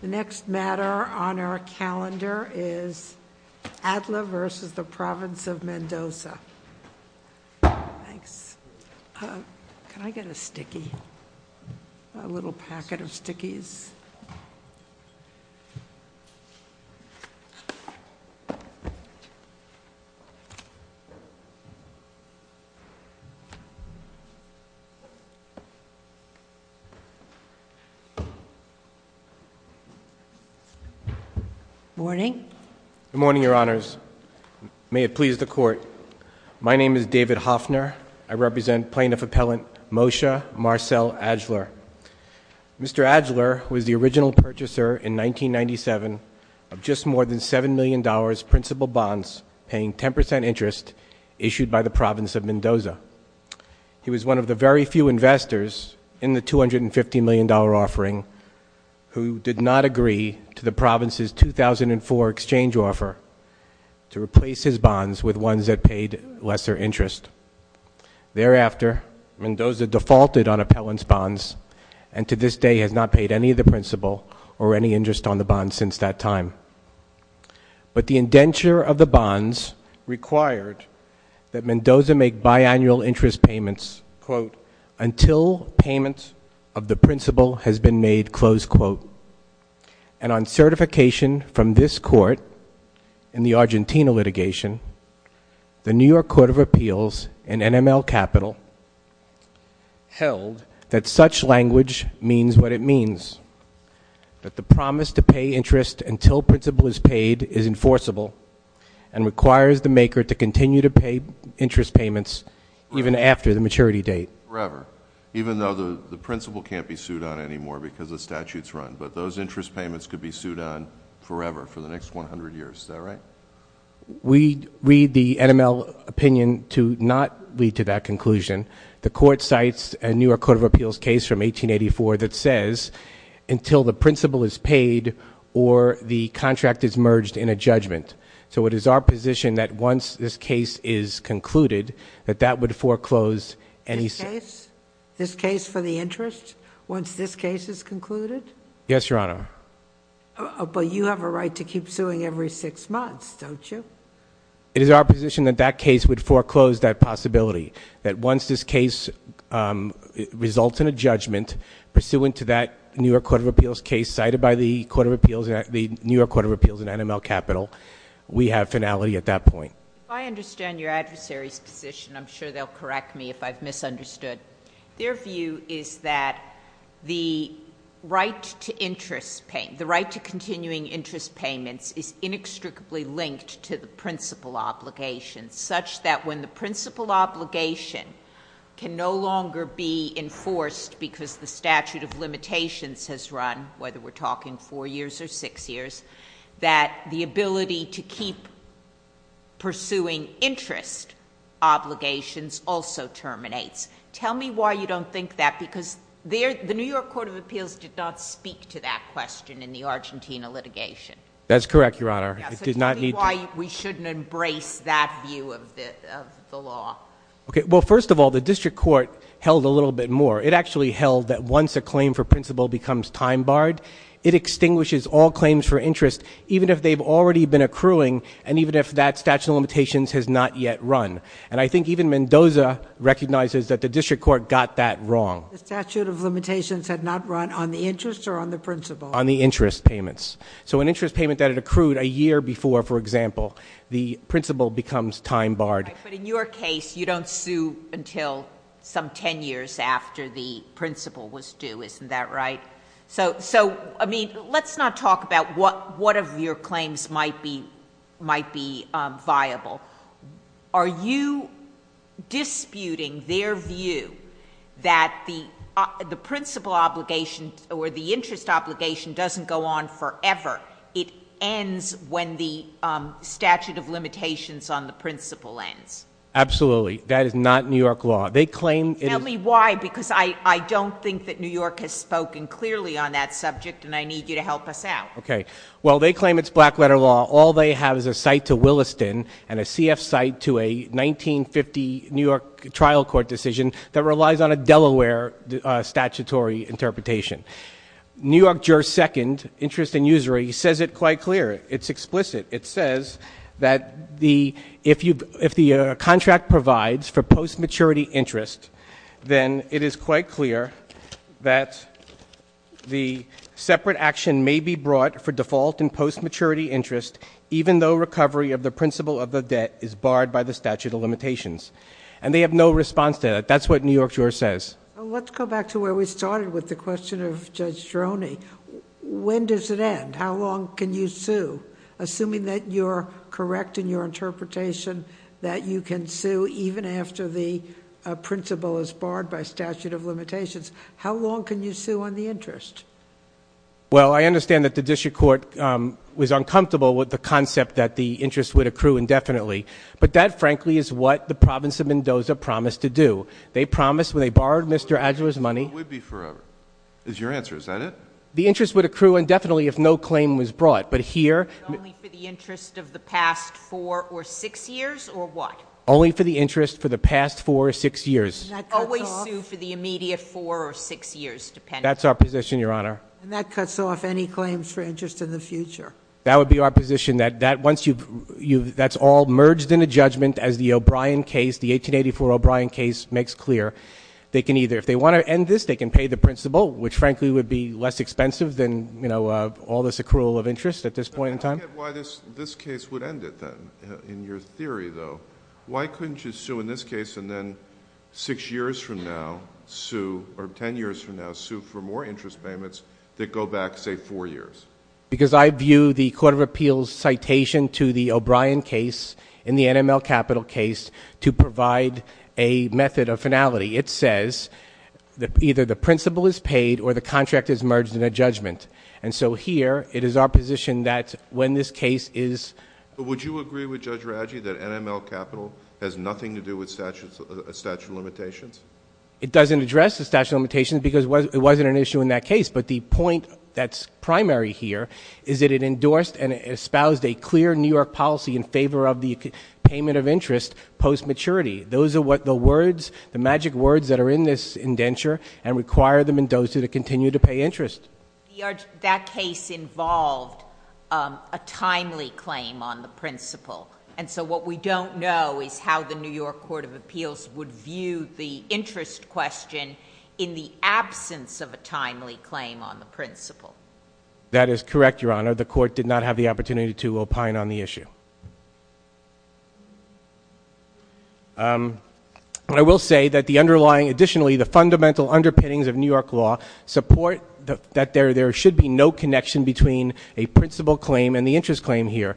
The next matter on our calendar is Adler v. The Province of Mendoza. Thanks, can I get a sticky? A little packet of stickies. Good morning, your honors. May it please the court, my name is David Hoffner, I represent plaintiff appellant Moshe Marcel Adler. Mr. Adler was the original purchaser in 1997 of just more than $7 million principal bonds paying 10% interest issued by the Province of Mendoza. He was one of the very few investors in the $250 million offering who did not agree to the Province's 2004 exchange offer to replace his bonds with ones that paid lesser interest. Thereafter, Mendoza defaulted on appellant's bonds and to this day has not paid any of the principal or any interest on the bonds since that time. But the indenture of the bonds required that Mendoza make biannual interest payments, quote, until payment of the principal has been made, close quote. And on certification from this court in the Argentina litigation, the New York Court of Appeals and NML Capital held that such language means what it means. That the promise to pay interest until principal is paid is enforceable and requires the maker to continue to pay interest payments even after the maturity date. Forever, even though the principal can't be sued on anymore because the statute's run. But those interest payments could be sued on forever, for the next 100 years, is that right? We read the NML opinion to not lead to that conclusion. The court cites a New York Court of Appeals case from 1884 that says, until the principal is paid or the contract is merged in a judgment. So it is our position that once this case is concluded, that that would foreclose any- This case? This case for the interest? Once this case is concluded? Yes, Your Honor. But you have a right to keep suing every six months, don't you? It is our position that that case would foreclose that possibility. That once this case results in a judgment, pursuant to that New York Court of Appeals case, cited by the New York Court of Appeals and NML Capital, we have finality at that point. I understand your adversary's position, I'm sure they'll correct me if I've misunderstood. Their view is that the right to continuing interest payments is inextricably linked to the principal obligation, such that when the principal obligation can no longer be enforced because the statute of limitations has run, whether we're talking four years or six years, that the ability to keep pursuing interest obligations also terminates. Tell me why you don't think that, because the New York Court of Appeals did not speak to that question in the Argentina litigation. That's correct, Your Honor. It did not need to. We shouldn't embrace that view of the law. Okay, well first of all, the district court held a little bit more. It actually held that once a claim for principal becomes time barred, it extinguishes all claims for interest, even if they've already been accruing, and even if that statute of limitations has not yet run. And I think even Mendoza recognizes that the district court got that wrong. The statute of limitations had not run on the interest or on the principal? On the interest payments. So an interest payment that had accrued a year before, for example, the principal becomes time barred. But in your case, you don't sue until some ten years after the principal was due, isn't that right? So, I mean, let's not talk about what of your claims might be viable. Are you disputing their view that the principal obligation, or the interest obligation doesn't go on forever? It ends when the statute of limitations on the principal ends. Absolutely, that is not New York law. They claim it is- Tell me why, because I don't think that New York has spoken clearly on that subject, and I need you to help us out. Okay, well they claim it's black letter law. All they have is a cite to Williston and a CF cite to a 1950 New York trial court decision that relies on a Delaware statutory interpretation. New York juror's second, interest and usury, says it quite clear. It's explicit. It says that if the contract provides for post-maturity interest, then it is quite clear that the separate action may be brought for default in post-maturity interest, even though recovery of the principal of the debt is barred by the statute of limitations. And they have no response to that. That's what New York juror says. Let's go back to where we started with the question of Judge Droney. When does it end? How long can you sue? Assuming that you're correct in your interpretation, that you can sue even after the principle is barred by statute of limitations. How long can you sue on the interest? Well, I understand that the district court was uncomfortable with the concept that the interest would accrue indefinitely. But that, frankly, is what the province of Mendoza promised to do. They promised, when they borrowed Mr. Adler's money- It would be forever, is your answer. Is that it? The interest would accrue indefinitely if no claim was brought. But here- Only for the interest of the past four or six years, or what? Only for the interest for the past four or six years. And that cuts off- Always sue for the immediate four or six years, depending- That's our position, Your Honor. And that cuts off any claims for interest in the future. That would be our position, that once you've- that's all merged in a judgment as the O'Brien case, the 1884 O'Brien case makes clear. They can either, if they want to end this, they can pay the principal, which frankly would be less expensive than all this accrual of interest at this point in time. I don't get why this case would end it, then, in your theory, though. Why couldn't you sue in this case and then six years from now sue, or ten years from now sue for more interest payments that go back, say, four years? Because I view the Court of Appeals citation to the O'Brien case and the NML Capital case to provide a method of finality. It says that either the principal is paid or the contract is merged in a judgment. And so here, it is our position that when this case is- But would you agree with Judge Raggi that NML Capital has nothing to do with statute of limitations? It doesn't address the statute of limitations because it wasn't an issue in that case. But the point that's primary here is that it endorsed and it espoused a clear New York policy in favor of the payment of interest post-maturity. Those are what the words, the magic words that are in this indenture and require the Mendoza to continue to pay interest. That case involved a timely claim on the principal. And so what we don't know is how the New York Court of Appeals would view the interest question in the absence of a timely claim on the principal. That is correct, Your Honor. The court did not have the opportunity to opine on the issue. I will say that the underlying, additionally, the fundamental underpinnings of New York law support that there should be no connection between a principal claim and the interest claim here.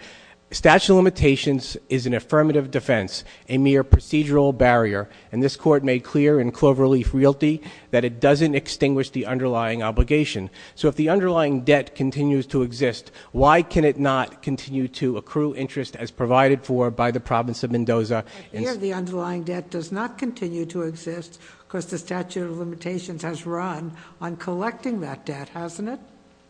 Statute of limitations is an affirmative defense, a mere procedural barrier. And this court made clear in Cloverleaf Realty that it doesn't extinguish the underlying obligation. So if the underlying debt continues to exist, why can it not continue to accrue interest as provided for by the province of Mendoza? Here the underlying debt does not continue to exist because the statute of limitations has run on collecting that debt, hasn't it?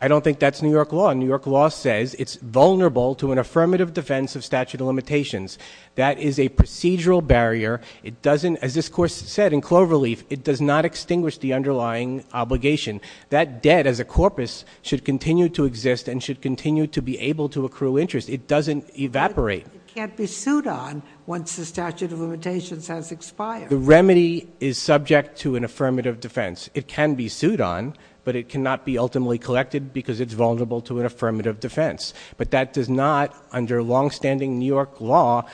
I don't think that's New York law. New York law says it's vulnerable to an affirmative defense of statute of limitations. That is a procedural barrier. As this court said in Cloverleaf, it does not extinguish the underlying obligation. That debt as a corpus should continue to exist and should continue to be able to accrue interest. It doesn't evaporate. It can't be sued on once the statute of limitations has expired. The remedy is subject to an affirmative defense. It can be sued on, but it cannot be ultimately collected because it's vulnerable to an affirmative defense. But that does not, under longstanding New York law,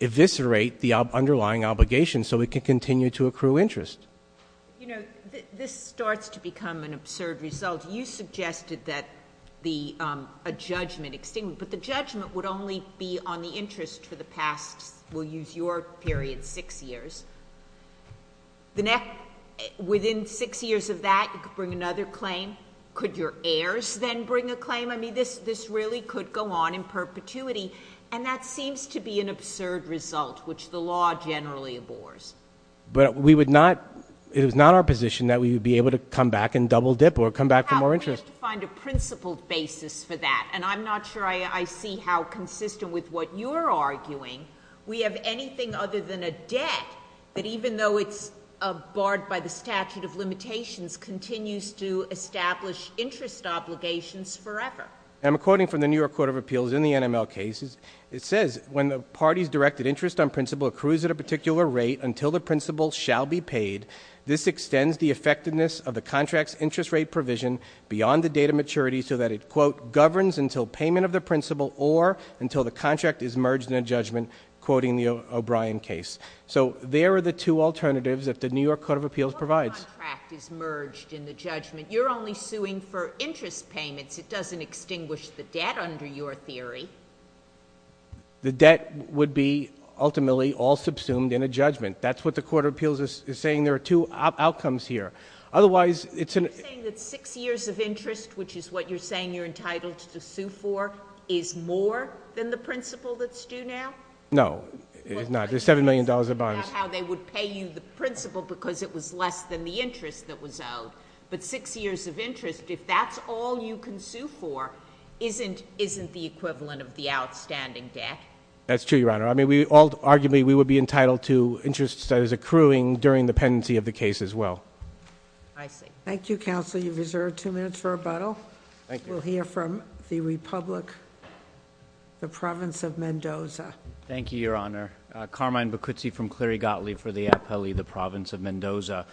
eviscerate the underlying obligation so it can continue to accrue interest. This starts to become an absurd result. You suggested that a judgment extinguished, but the judgment would only be on the interest for the past, we'll use your period, six years. Within six years of that, you could bring another claim. Could your heirs then bring a claim? I mean, this really could go on in perpetuity. And that seems to be an absurd result, which the law generally abhors. But we would not, it is not our position that we would be able to come back and double dip or come back for more interest. We have to find a principled basis for that, and I'm not sure I see how consistent with what you're arguing. We have anything other than a debt that even though it's barred by the statute of limitations, continues to establish interest obligations forever. I'm quoting from the New York Court of Appeals in the NML cases. It says, when the party's directed interest on principle accrues at a particular rate until the principle shall be paid, this extends the effectiveness of the contract's interest rate provision beyond the date of maturity so that it, quote, governs until payment of the principle or until the contract is merged in a judgment, quoting the O'Brien case. So there are the two alternatives that the New York Court of Appeals provides. The contract is merged in the judgment. You're only suing for interest payments. It doesn't extinguish the debt under your theory. The debt would be ultimately all subsumed in a judgment. That's what the Court of Appeals is saying. There are two outcomes here. Otherwise, it's an- Are you saying that six years of interest, which is what you're saying you're entitled to sue for, is more than the principle that's due now? No, it's not. There's $7 million in bonds. It's not how they would pay you the principle because it was less than the interest that was owed. But six years of interest, if that's all you can sue for, isn't the equivalent of the outstanding debt? That's true, Your Honor. I mean, arguably, we would be entitled to interest that is accruing during the pendency of the case as well. I see. Thank you, Counsel. You've reserved two minutes for rebuttal. Thank you. We'll hear from the Republic, the Province of Mendoza. Thank you, Your Honor. Carmine Bacuzzi from Cleary Gottlieb for the Appellee, the Province of Mendoza.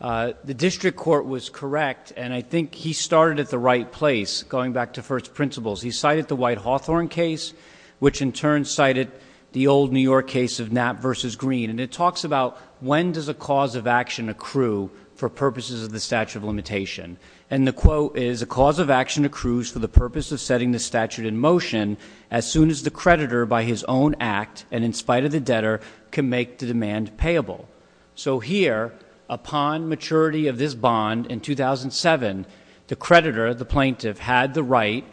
The district court was correct, and I think he started at the right place, going back to first principles. He cited the White Hawthorne case, which in turn cited the old New York case of Knapp versus Green. And it talks about when does a cause of action accrue for purposes of the statute of limitation. And the quote is, a cause of action accrues for the purpose of setting the statute in motion as soon as the creditor by his own act, and in spite of the debtor, can make the demand payable. So here, upon maturity of this bond in 2007, the creditor, the plaintiff, had the right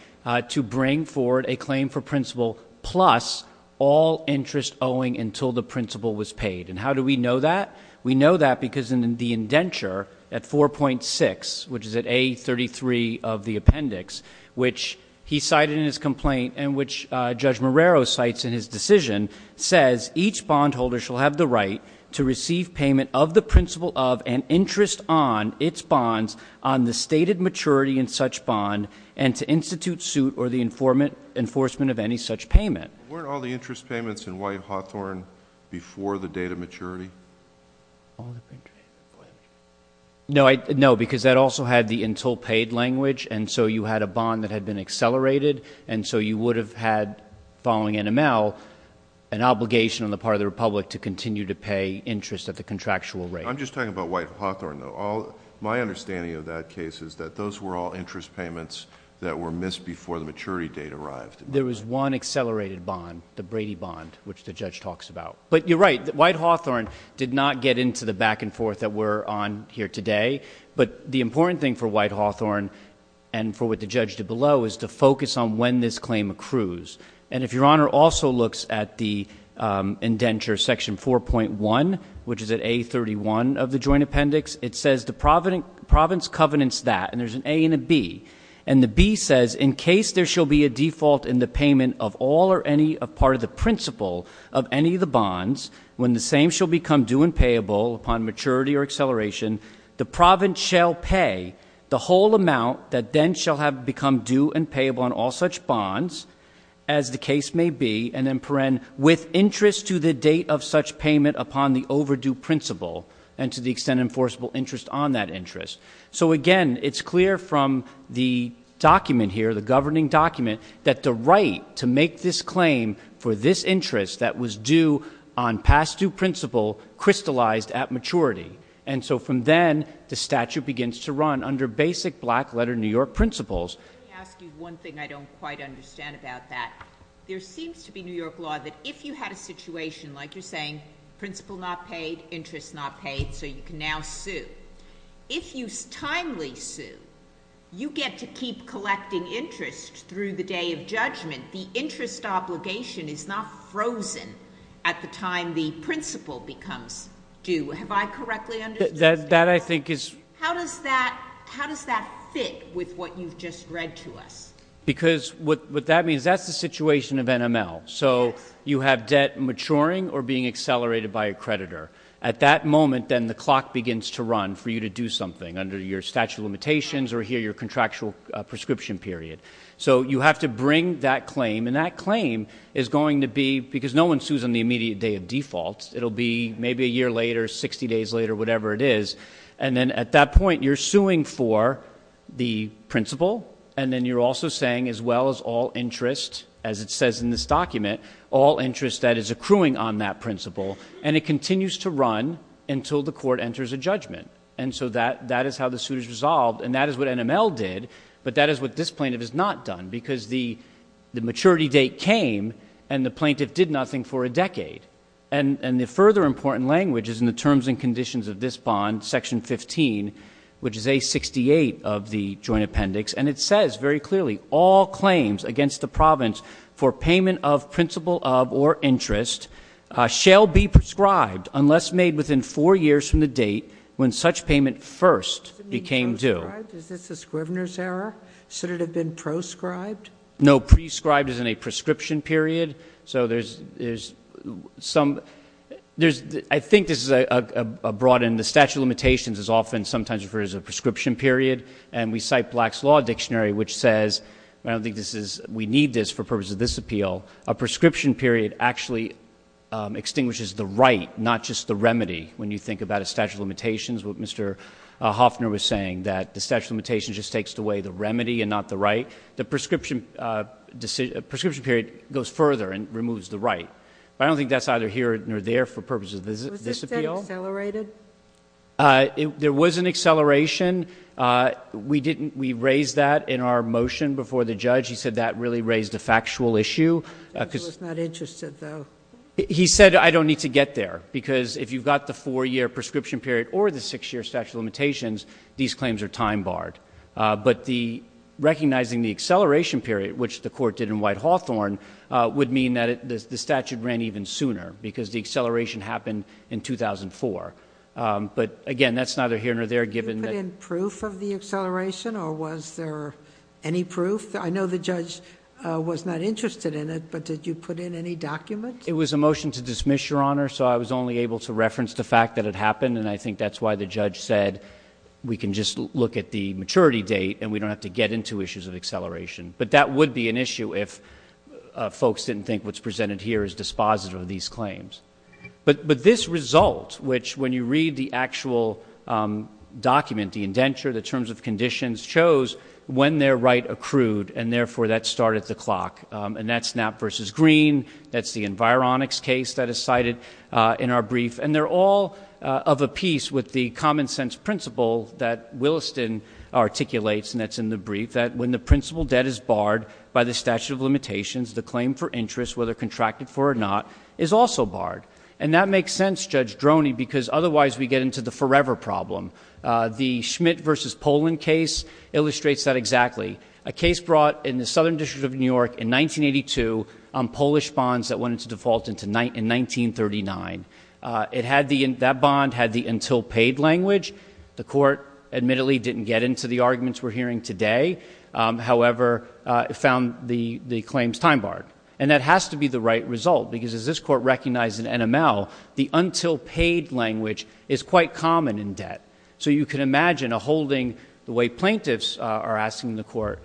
to bring forward a claim for principle plus all interest owing until the principle was paid. And how do we know that? We know that because in the indenture at 4.6, which is at A33 of the appendix, which he cited in his complaint, and which Judge Marrero cites in his decision, says each bondholder shall have the right to receive payment of the principle of and interest on its bonds on the stated maturity in such bond, and to institute suit or the enforcement of any such payment. Weren't all the interest payments in White Hawthorne before the date of maturity? All the interest payments? No, because that also had the until paid language, and so you had a bond that had been accelerated, and so you would have had, following NML, an obligation on the part of the Republic to continue to pay interest at the contractual rate. I'm just talking about White Hawthorne, though. My understanding of that case is that those were all interest payments that were missed before the maturity date arrived. There was one accelerated bond, the Brady Bond, which the judge talks about. But you're right, White Hawthorne did not get into the back and forth that we're on here today. But the important thing for White Hawthorne, and for what the judge did below, is to focus on when this claim accrues. And if your honor also looks at the indenture section 4.1, which is at A31 of the joint appendix, it says the province covenants that, and there's an A and a B. And the B says, in case there shall be a default in the payment of all or any part of the principle of any of the bonds, when the same shall become due and payable upon maturity or acceleration, the province shall pay the whole amount that then shall have become due and payable on all such bonds, as the case may be. And then, with interest to the date of such payment upon the overdue principle, and to the extent enforceable interest on that interest. So again, it's clear from the document here, the governing document, that the right to make this claim for this interest that was due on past due principle, crystallized at maturity. And so from then, the statute begins to run under basic black letter New York principles. Let me ask you one thing I don't quite understand about that. There seems to be New York law that if you had a situation, like you're saying, principle not paid, interest not paid, so you can now sue. If you timely sue, you get to keep collecting interest through the day of judgment. The interest obligation is not frozen at the time the principle becomes due. Have I correctly understood? That I think is- How does that fit with what you've just read to us? Because what that means, that's the situation of NML. So you have debt maturing or being accelerated by a creditor. At that moment, then the clock begins to run for you to do something under your statute of limitations or here your contractual prescription period. So you have to bring that claim, and that claim is going to be, because no one sues on the immediate day of default. It'll be maybe a year later, 60 days later, whatever it is. And then at that point, you're suing for the principle, and then you're also saying as well as all interest, as it says in this document, all interest that is accruing on that principle. And it continues to run until the court enters a judgment. And so that is how the suit is resolved, and that is what NML did. But that is what this plaintiff has not done, because the maturity date came and the plaintiff did nothing for a decade. And the further important language is in the terms and conditions of this bond, section 15, which is A68 of the joint appendix. And it says very clearly, all claims against the province for payment of principle of or interest shall be prescribed unless made within four years from the date when such payment first became due. Is this a scrivener's error? Should it have been proscribed? No, prescribed is in a prescription period. So there's some, I think this is a broadened, the statute of limitations is often sometimes referred to as a prescription period. And we cite Black's Law Dictionary, which says, I don't think this is, we need this for purpose of this appeal. A prescription period actually extinguishes the right, not just the remedy. When you think about a statute of limitations, what Mr. Hoffner was saying, that the statute of limitations just takes away the remedy and not the right. The prescription period goes further and removes the right. I don't think that's either here or there for purposes of this appeal. Was this then accelerated? There was an acceleration, we raised that in our motion before the judge. He said that really raised a factual issue. He was not interested though. He said I don't need to get there, because if you've got the four year prescription period or the six year statute of limitations, these claims are time barred. But recognizing the acceleration period, which the court did in White-Hawthorne, would mean that the statute ran even sooner, because the acceleration happened in 2004. But again, that's neither here nor there, given that- Did you put in proof of the acceleration, or was there any proof? I know the judge was not interested in it, but did you put in any documents? It was a motion to dismiss, Your Honor, so I was only able to reference the fact that it happened, and I think that's why the judge said we can just look at the maturity date, and we don't have to get into issues of acceleration. But that would be an issue if folks didn't think what's presented here is dispositive of these claims. But this result, which when you read the actual document, the indenture, the terms of conditions shows when their right accrued, and therefore that start at the clock. And that's Knapp versus Green, that's the Environics case that is cited in our brief. And they're all of a piece with the common sense principle that Williston articulates, and that's in the brief, that when the principal debt is barred by the statute of limitations, the claim for interest, whether contracted for or not, is also barred. And that makes sense, Judge Droney, because otherwise we get into the forever problem. The Schmidt versus Poland case illustrates that exactly. A case brought in the Southern District of New York in 1982 on Polish bonds that went into default in 1939. That bond had the until paid language. The court admittedly didn't get into the arguments we're hearing today. However, it found the claims time barred. And that has to be the right result, because as this court recognized in NML, the until paid language is quite common in debt. So you can imagine a holding, the way plaintiffs are asking the court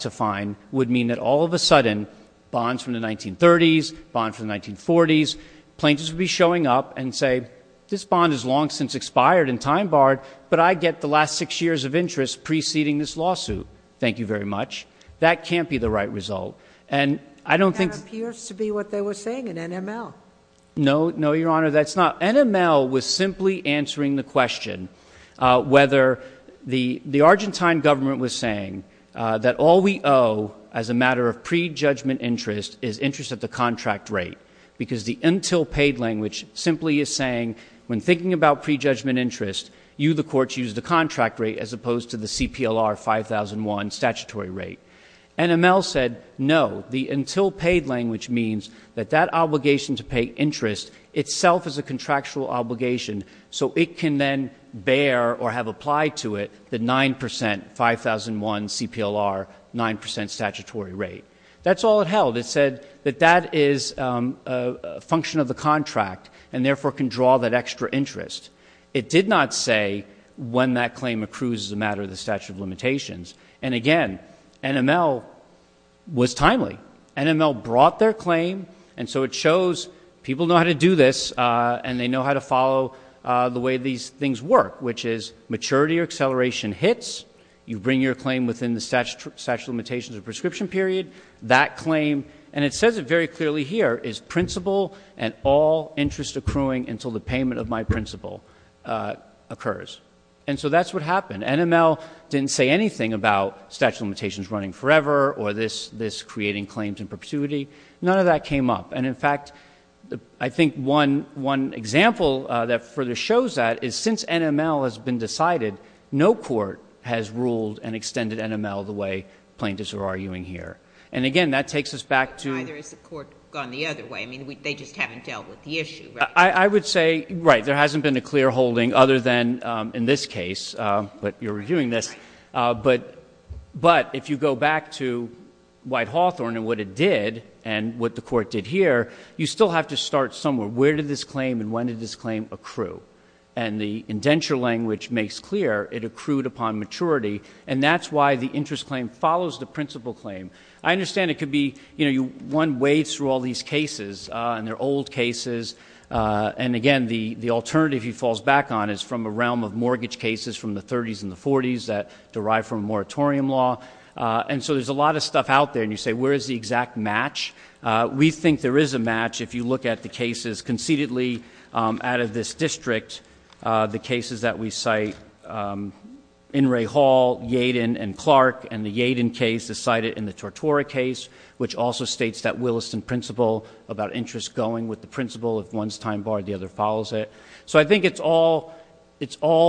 to find, would mean that all of a sudden, bonds from the 1930s, bonds from the 1940s. Plaintiffs would be showing up and say, this bond has long since expired and time barred, but I get the last six years of interest preceding this lawsuit, thank you very much. That can't be the right result. And I don't think- That appears to be what they were saying in NML. No, no, your honor, that's not. NML was simply answering the question whether the Argentine government was saying that all we owe as a matter of pre-judgment interest is interest at the contract rate. Because the until paid language simply is saying, when thinking about pre-judgment interest, you the courts use the contract rate as opposed to the CPLR 5001 statutory rate. NML said, no, the until paid language means that that obligation to pay interest itself is a contractual obligation, so it can then bear or have applied to it the 9%, 5001 CPLR, 9% statutory rate. That's all it held. It said that that is a function of the contract and therefore can draw that extra interest. It did not say when that claim accrues as a matter of the statute of limitations. And again, NML was timely. NML brought their claim, and so it shows people know how to do this, and they know how to follow the way these things work, which is maturity or acceleration hits. You bring your claim within the statute of limitations or prescription period. That claim, and it says it very clearly here, is principal and all interest accruing until the payment of my principal occurs. And so that's what happened. NML didn't say anything about statute of limitations running forever or this creating claims in perpetuity. None of that came up. And in fact, I think one example that further shows that is since NML has been decided, no court has ruled and extended NML the way plaintiffs are arguing here. And again, that takes us back to- But neither has the court gone the other way. I mean, they just haven't dealt with the issue, right? I would say, right, there hasn't been a clear holding other than in this case, but you're reviewing this. But if you go back to White-Hawthorne and what it did, and what the court did here, you still have to start somewhere, where did this claim and when did this claim accrue? And the indenture language makes clear it accrued upon maturity, and that's why the interest claim follows the principal claim. I understand it could be, one wades through all these cases, and they're old cases, and again, the alternative he falls back on is from a realm of mortgage cases from the 30s and the 40s that derive from moratorium law. And so there's a lot of stuff out there, and you say, where is the exact match? We think there is a match if you look at the cases concededly out of this district. The cases that we cite, In re Hall, Yadin, and Clark, and the Yadin case is cited in the Tortora case, which also states that Williston principle about interest going with the principle, if one's time barred, the other follows it. So I think it's all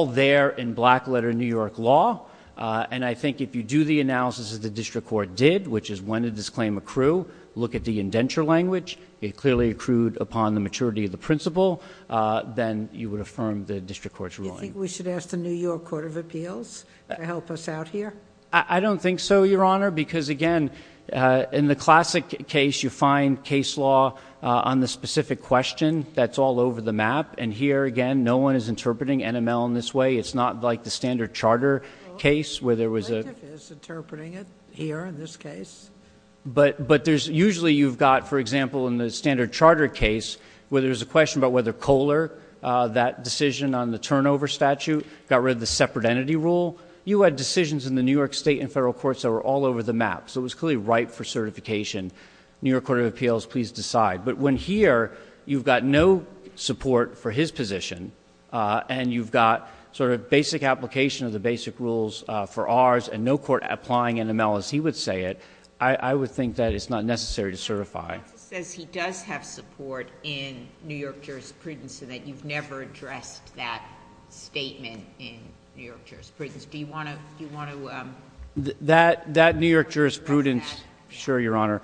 there in black letter New York law, and I think if you do the analysis that the district court did, which is when did this claim accrue, look at the indenture language. It clearly accrued upon the maturity of the principle, then you would affirm the district court's ruling. You think we should ask the New York Court of Appeals to help us out here? I don't think so, Your Honor, because again, in the classic case, you find case law on the specific question that's all over the map. And here, again, no one is interpreting NML in this way. It's not like the standard charter case where there was a- The plaintiff is interpreting it here in this case. But there's usually you've got, for example, in the standard charter case, where there's a question about whether Kohler, that decision on the turnover statute, got rid of the separate entity rule. You had decisions in the New York state and federal courts that were all over the map, so it was clearly ripe for certification. New York Court of Appeals, please decide. But when here, you've got no support for his position, and you've got sort of basic application of the basic rules for ours, and no court applying NML as he would say it, I would think that it's not necessary to certify. The Justice says he does have support in New York jurisprudence, and that you've never addressed that statement in New York jurisprudence. Do you want to- That New York jurisprudence- Sure, Your Honor.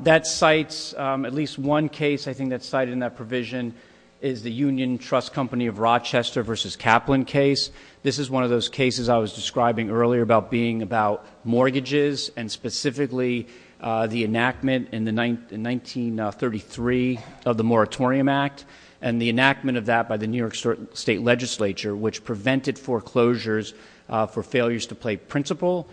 That cites at least one case, I think that's cited in that provision, is the Union Trust Company of Rochester versus Kaplan case. This is one of those cases I was describing earlier about being about mortgages, and specifically the enactment in 1933 of the Moratorium Act. And the enactment of that by the New York State Legislature, which prevented foreclosures for the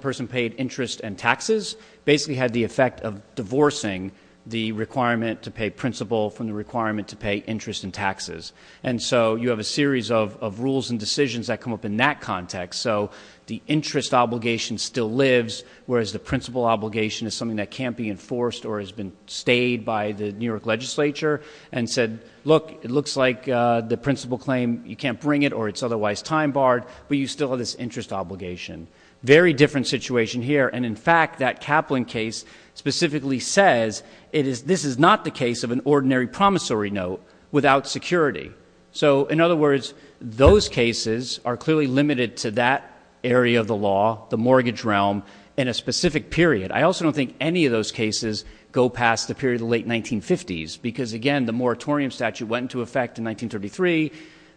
person paid interest and taxes, basically had the effect of divorcing the requirement to pay principal from the requirement to pay interest and taxes. And so you have a series of rules and decisions that come up in that context. So the interest obligation still lives, whereas the principal obligation is something that can't be enforced or has been stayed by the New York legislature, and said, look, it looks like the principal claim, you can't bring it or it's otherwise time barred, but you still have this interest obligation. Very different situation here, and in fact, that Kaplan case specifically says, this is not the case of an ordinary promissory note without security. So in other words, those cases are clearly limited to that area of the law, the mortgage realm, in a specific period. I also don't think any of those cases go past the period of the late 1950s, because again, the moratorium statute went into effect in 1933,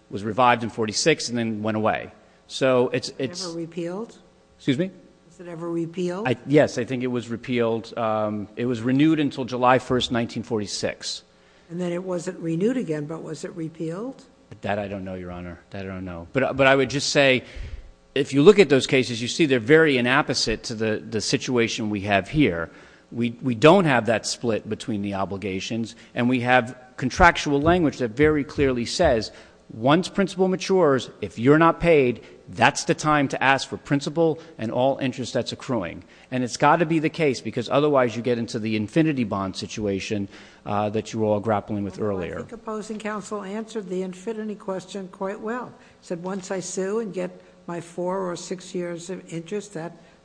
was revived in 46, and then went away. So it's- Was it ever repealed? Excuse me? Was it ever repealed? Yes, I think it was repealed. It was renewed until July 1st, 1946. And then it wasn't renewed again, but was it repealed? That I don't know, Your Honor, I don't know. But I would just say, if you look at those cases, you see they're very inapposite to the situation we have here. We don't have that split between the obligations, and we have contractual language that very clearly says, once principle matures, if you're not paid, that's the time to ask for principle and all interest that's accruing. And it's gotta be the case, because otherwise you get into the infinity bond situation that you were all grappling with earlier. I think opposing counsel answered the infinity question quite well. Said once I sue and get my four or six years of interest,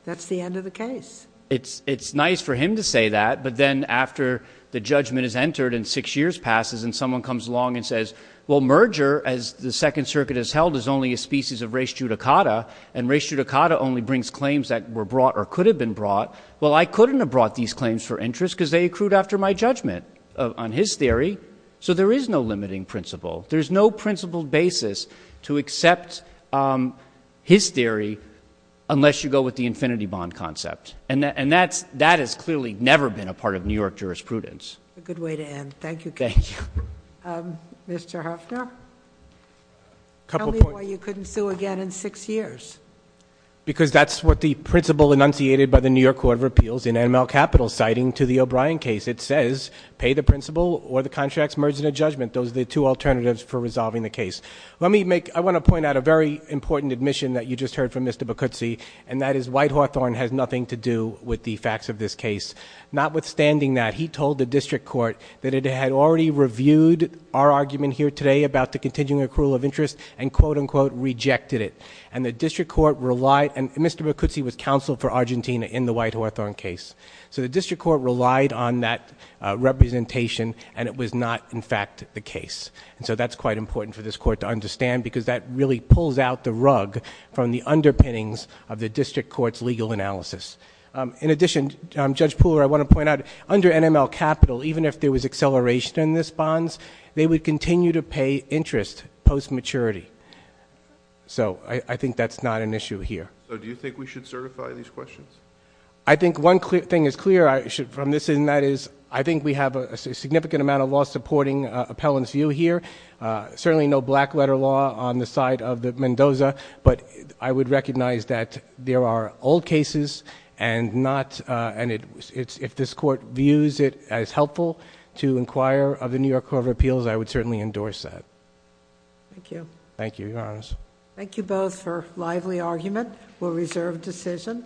that's the end of the case. It's nice for him to say that, but then after the judgment is entered and six years passes and someone comes along and says, well, merger, as the Second Circuit has held, is only a species of res judicata. And res judicata only brings claims that were brought or could have been brought. Well, I couldn't have brought these claims for interest, because they accrued after my judgment on his theory. So there is no limiting principle. There's no principled basis to accept his theory, unless you go with the infinity bond concept, and that has clearly never been a part of New York jurisprudence. A good way to end. Thank you, Kate. Thank you. Mr. Huffner? Tell me why you couldn't sue again in six years. Because that's what the principle enunciated by the New York Court of Appeals in ML Capital citing to the O'Brien case. It says, pay the principle or the contracts merged in a judgment. Those are the two alternatives for resolving the case. Let me make, I want to point out a very important admission that you just heard from Mr. Bacuzzi, and that is White Hawthorne has nothing to do with the facts of this case. Notwithstanding that, he told the district court that it had already reviewed our argument here today about the continuing accrual of interest, and quote, unquote, rejected it. And the district court relied, and Mr. Bacuzzi was counsel for Argentina in the White Hawthorne case. So the district court relied on that representation, and it was not, in fact, the case. And so that's quite important for this court to understand, because that really pulls out the rug from the underpinnings of the district court's legal analysis. In addition, Judge Pooler, I want to point out, under NML Capital, even if there was acceleration in this bonds, they would continue to pay interest post-maturity, so I think that's not an issue here. So do you think we should certify these questions? I think one thing is clear from this and that is, I think we have a significant amount of law supporting appellant's view here. Certainly no black letter law on the side of the Mendoza, but I would recognize that there are old cases and not, and if this court views it as helpful to inquire of the New York Court of Appeals, I would certainly endorse that. Thank you. Thank you, Your Honors. Thank you both for lively argument. We'll reserve decision.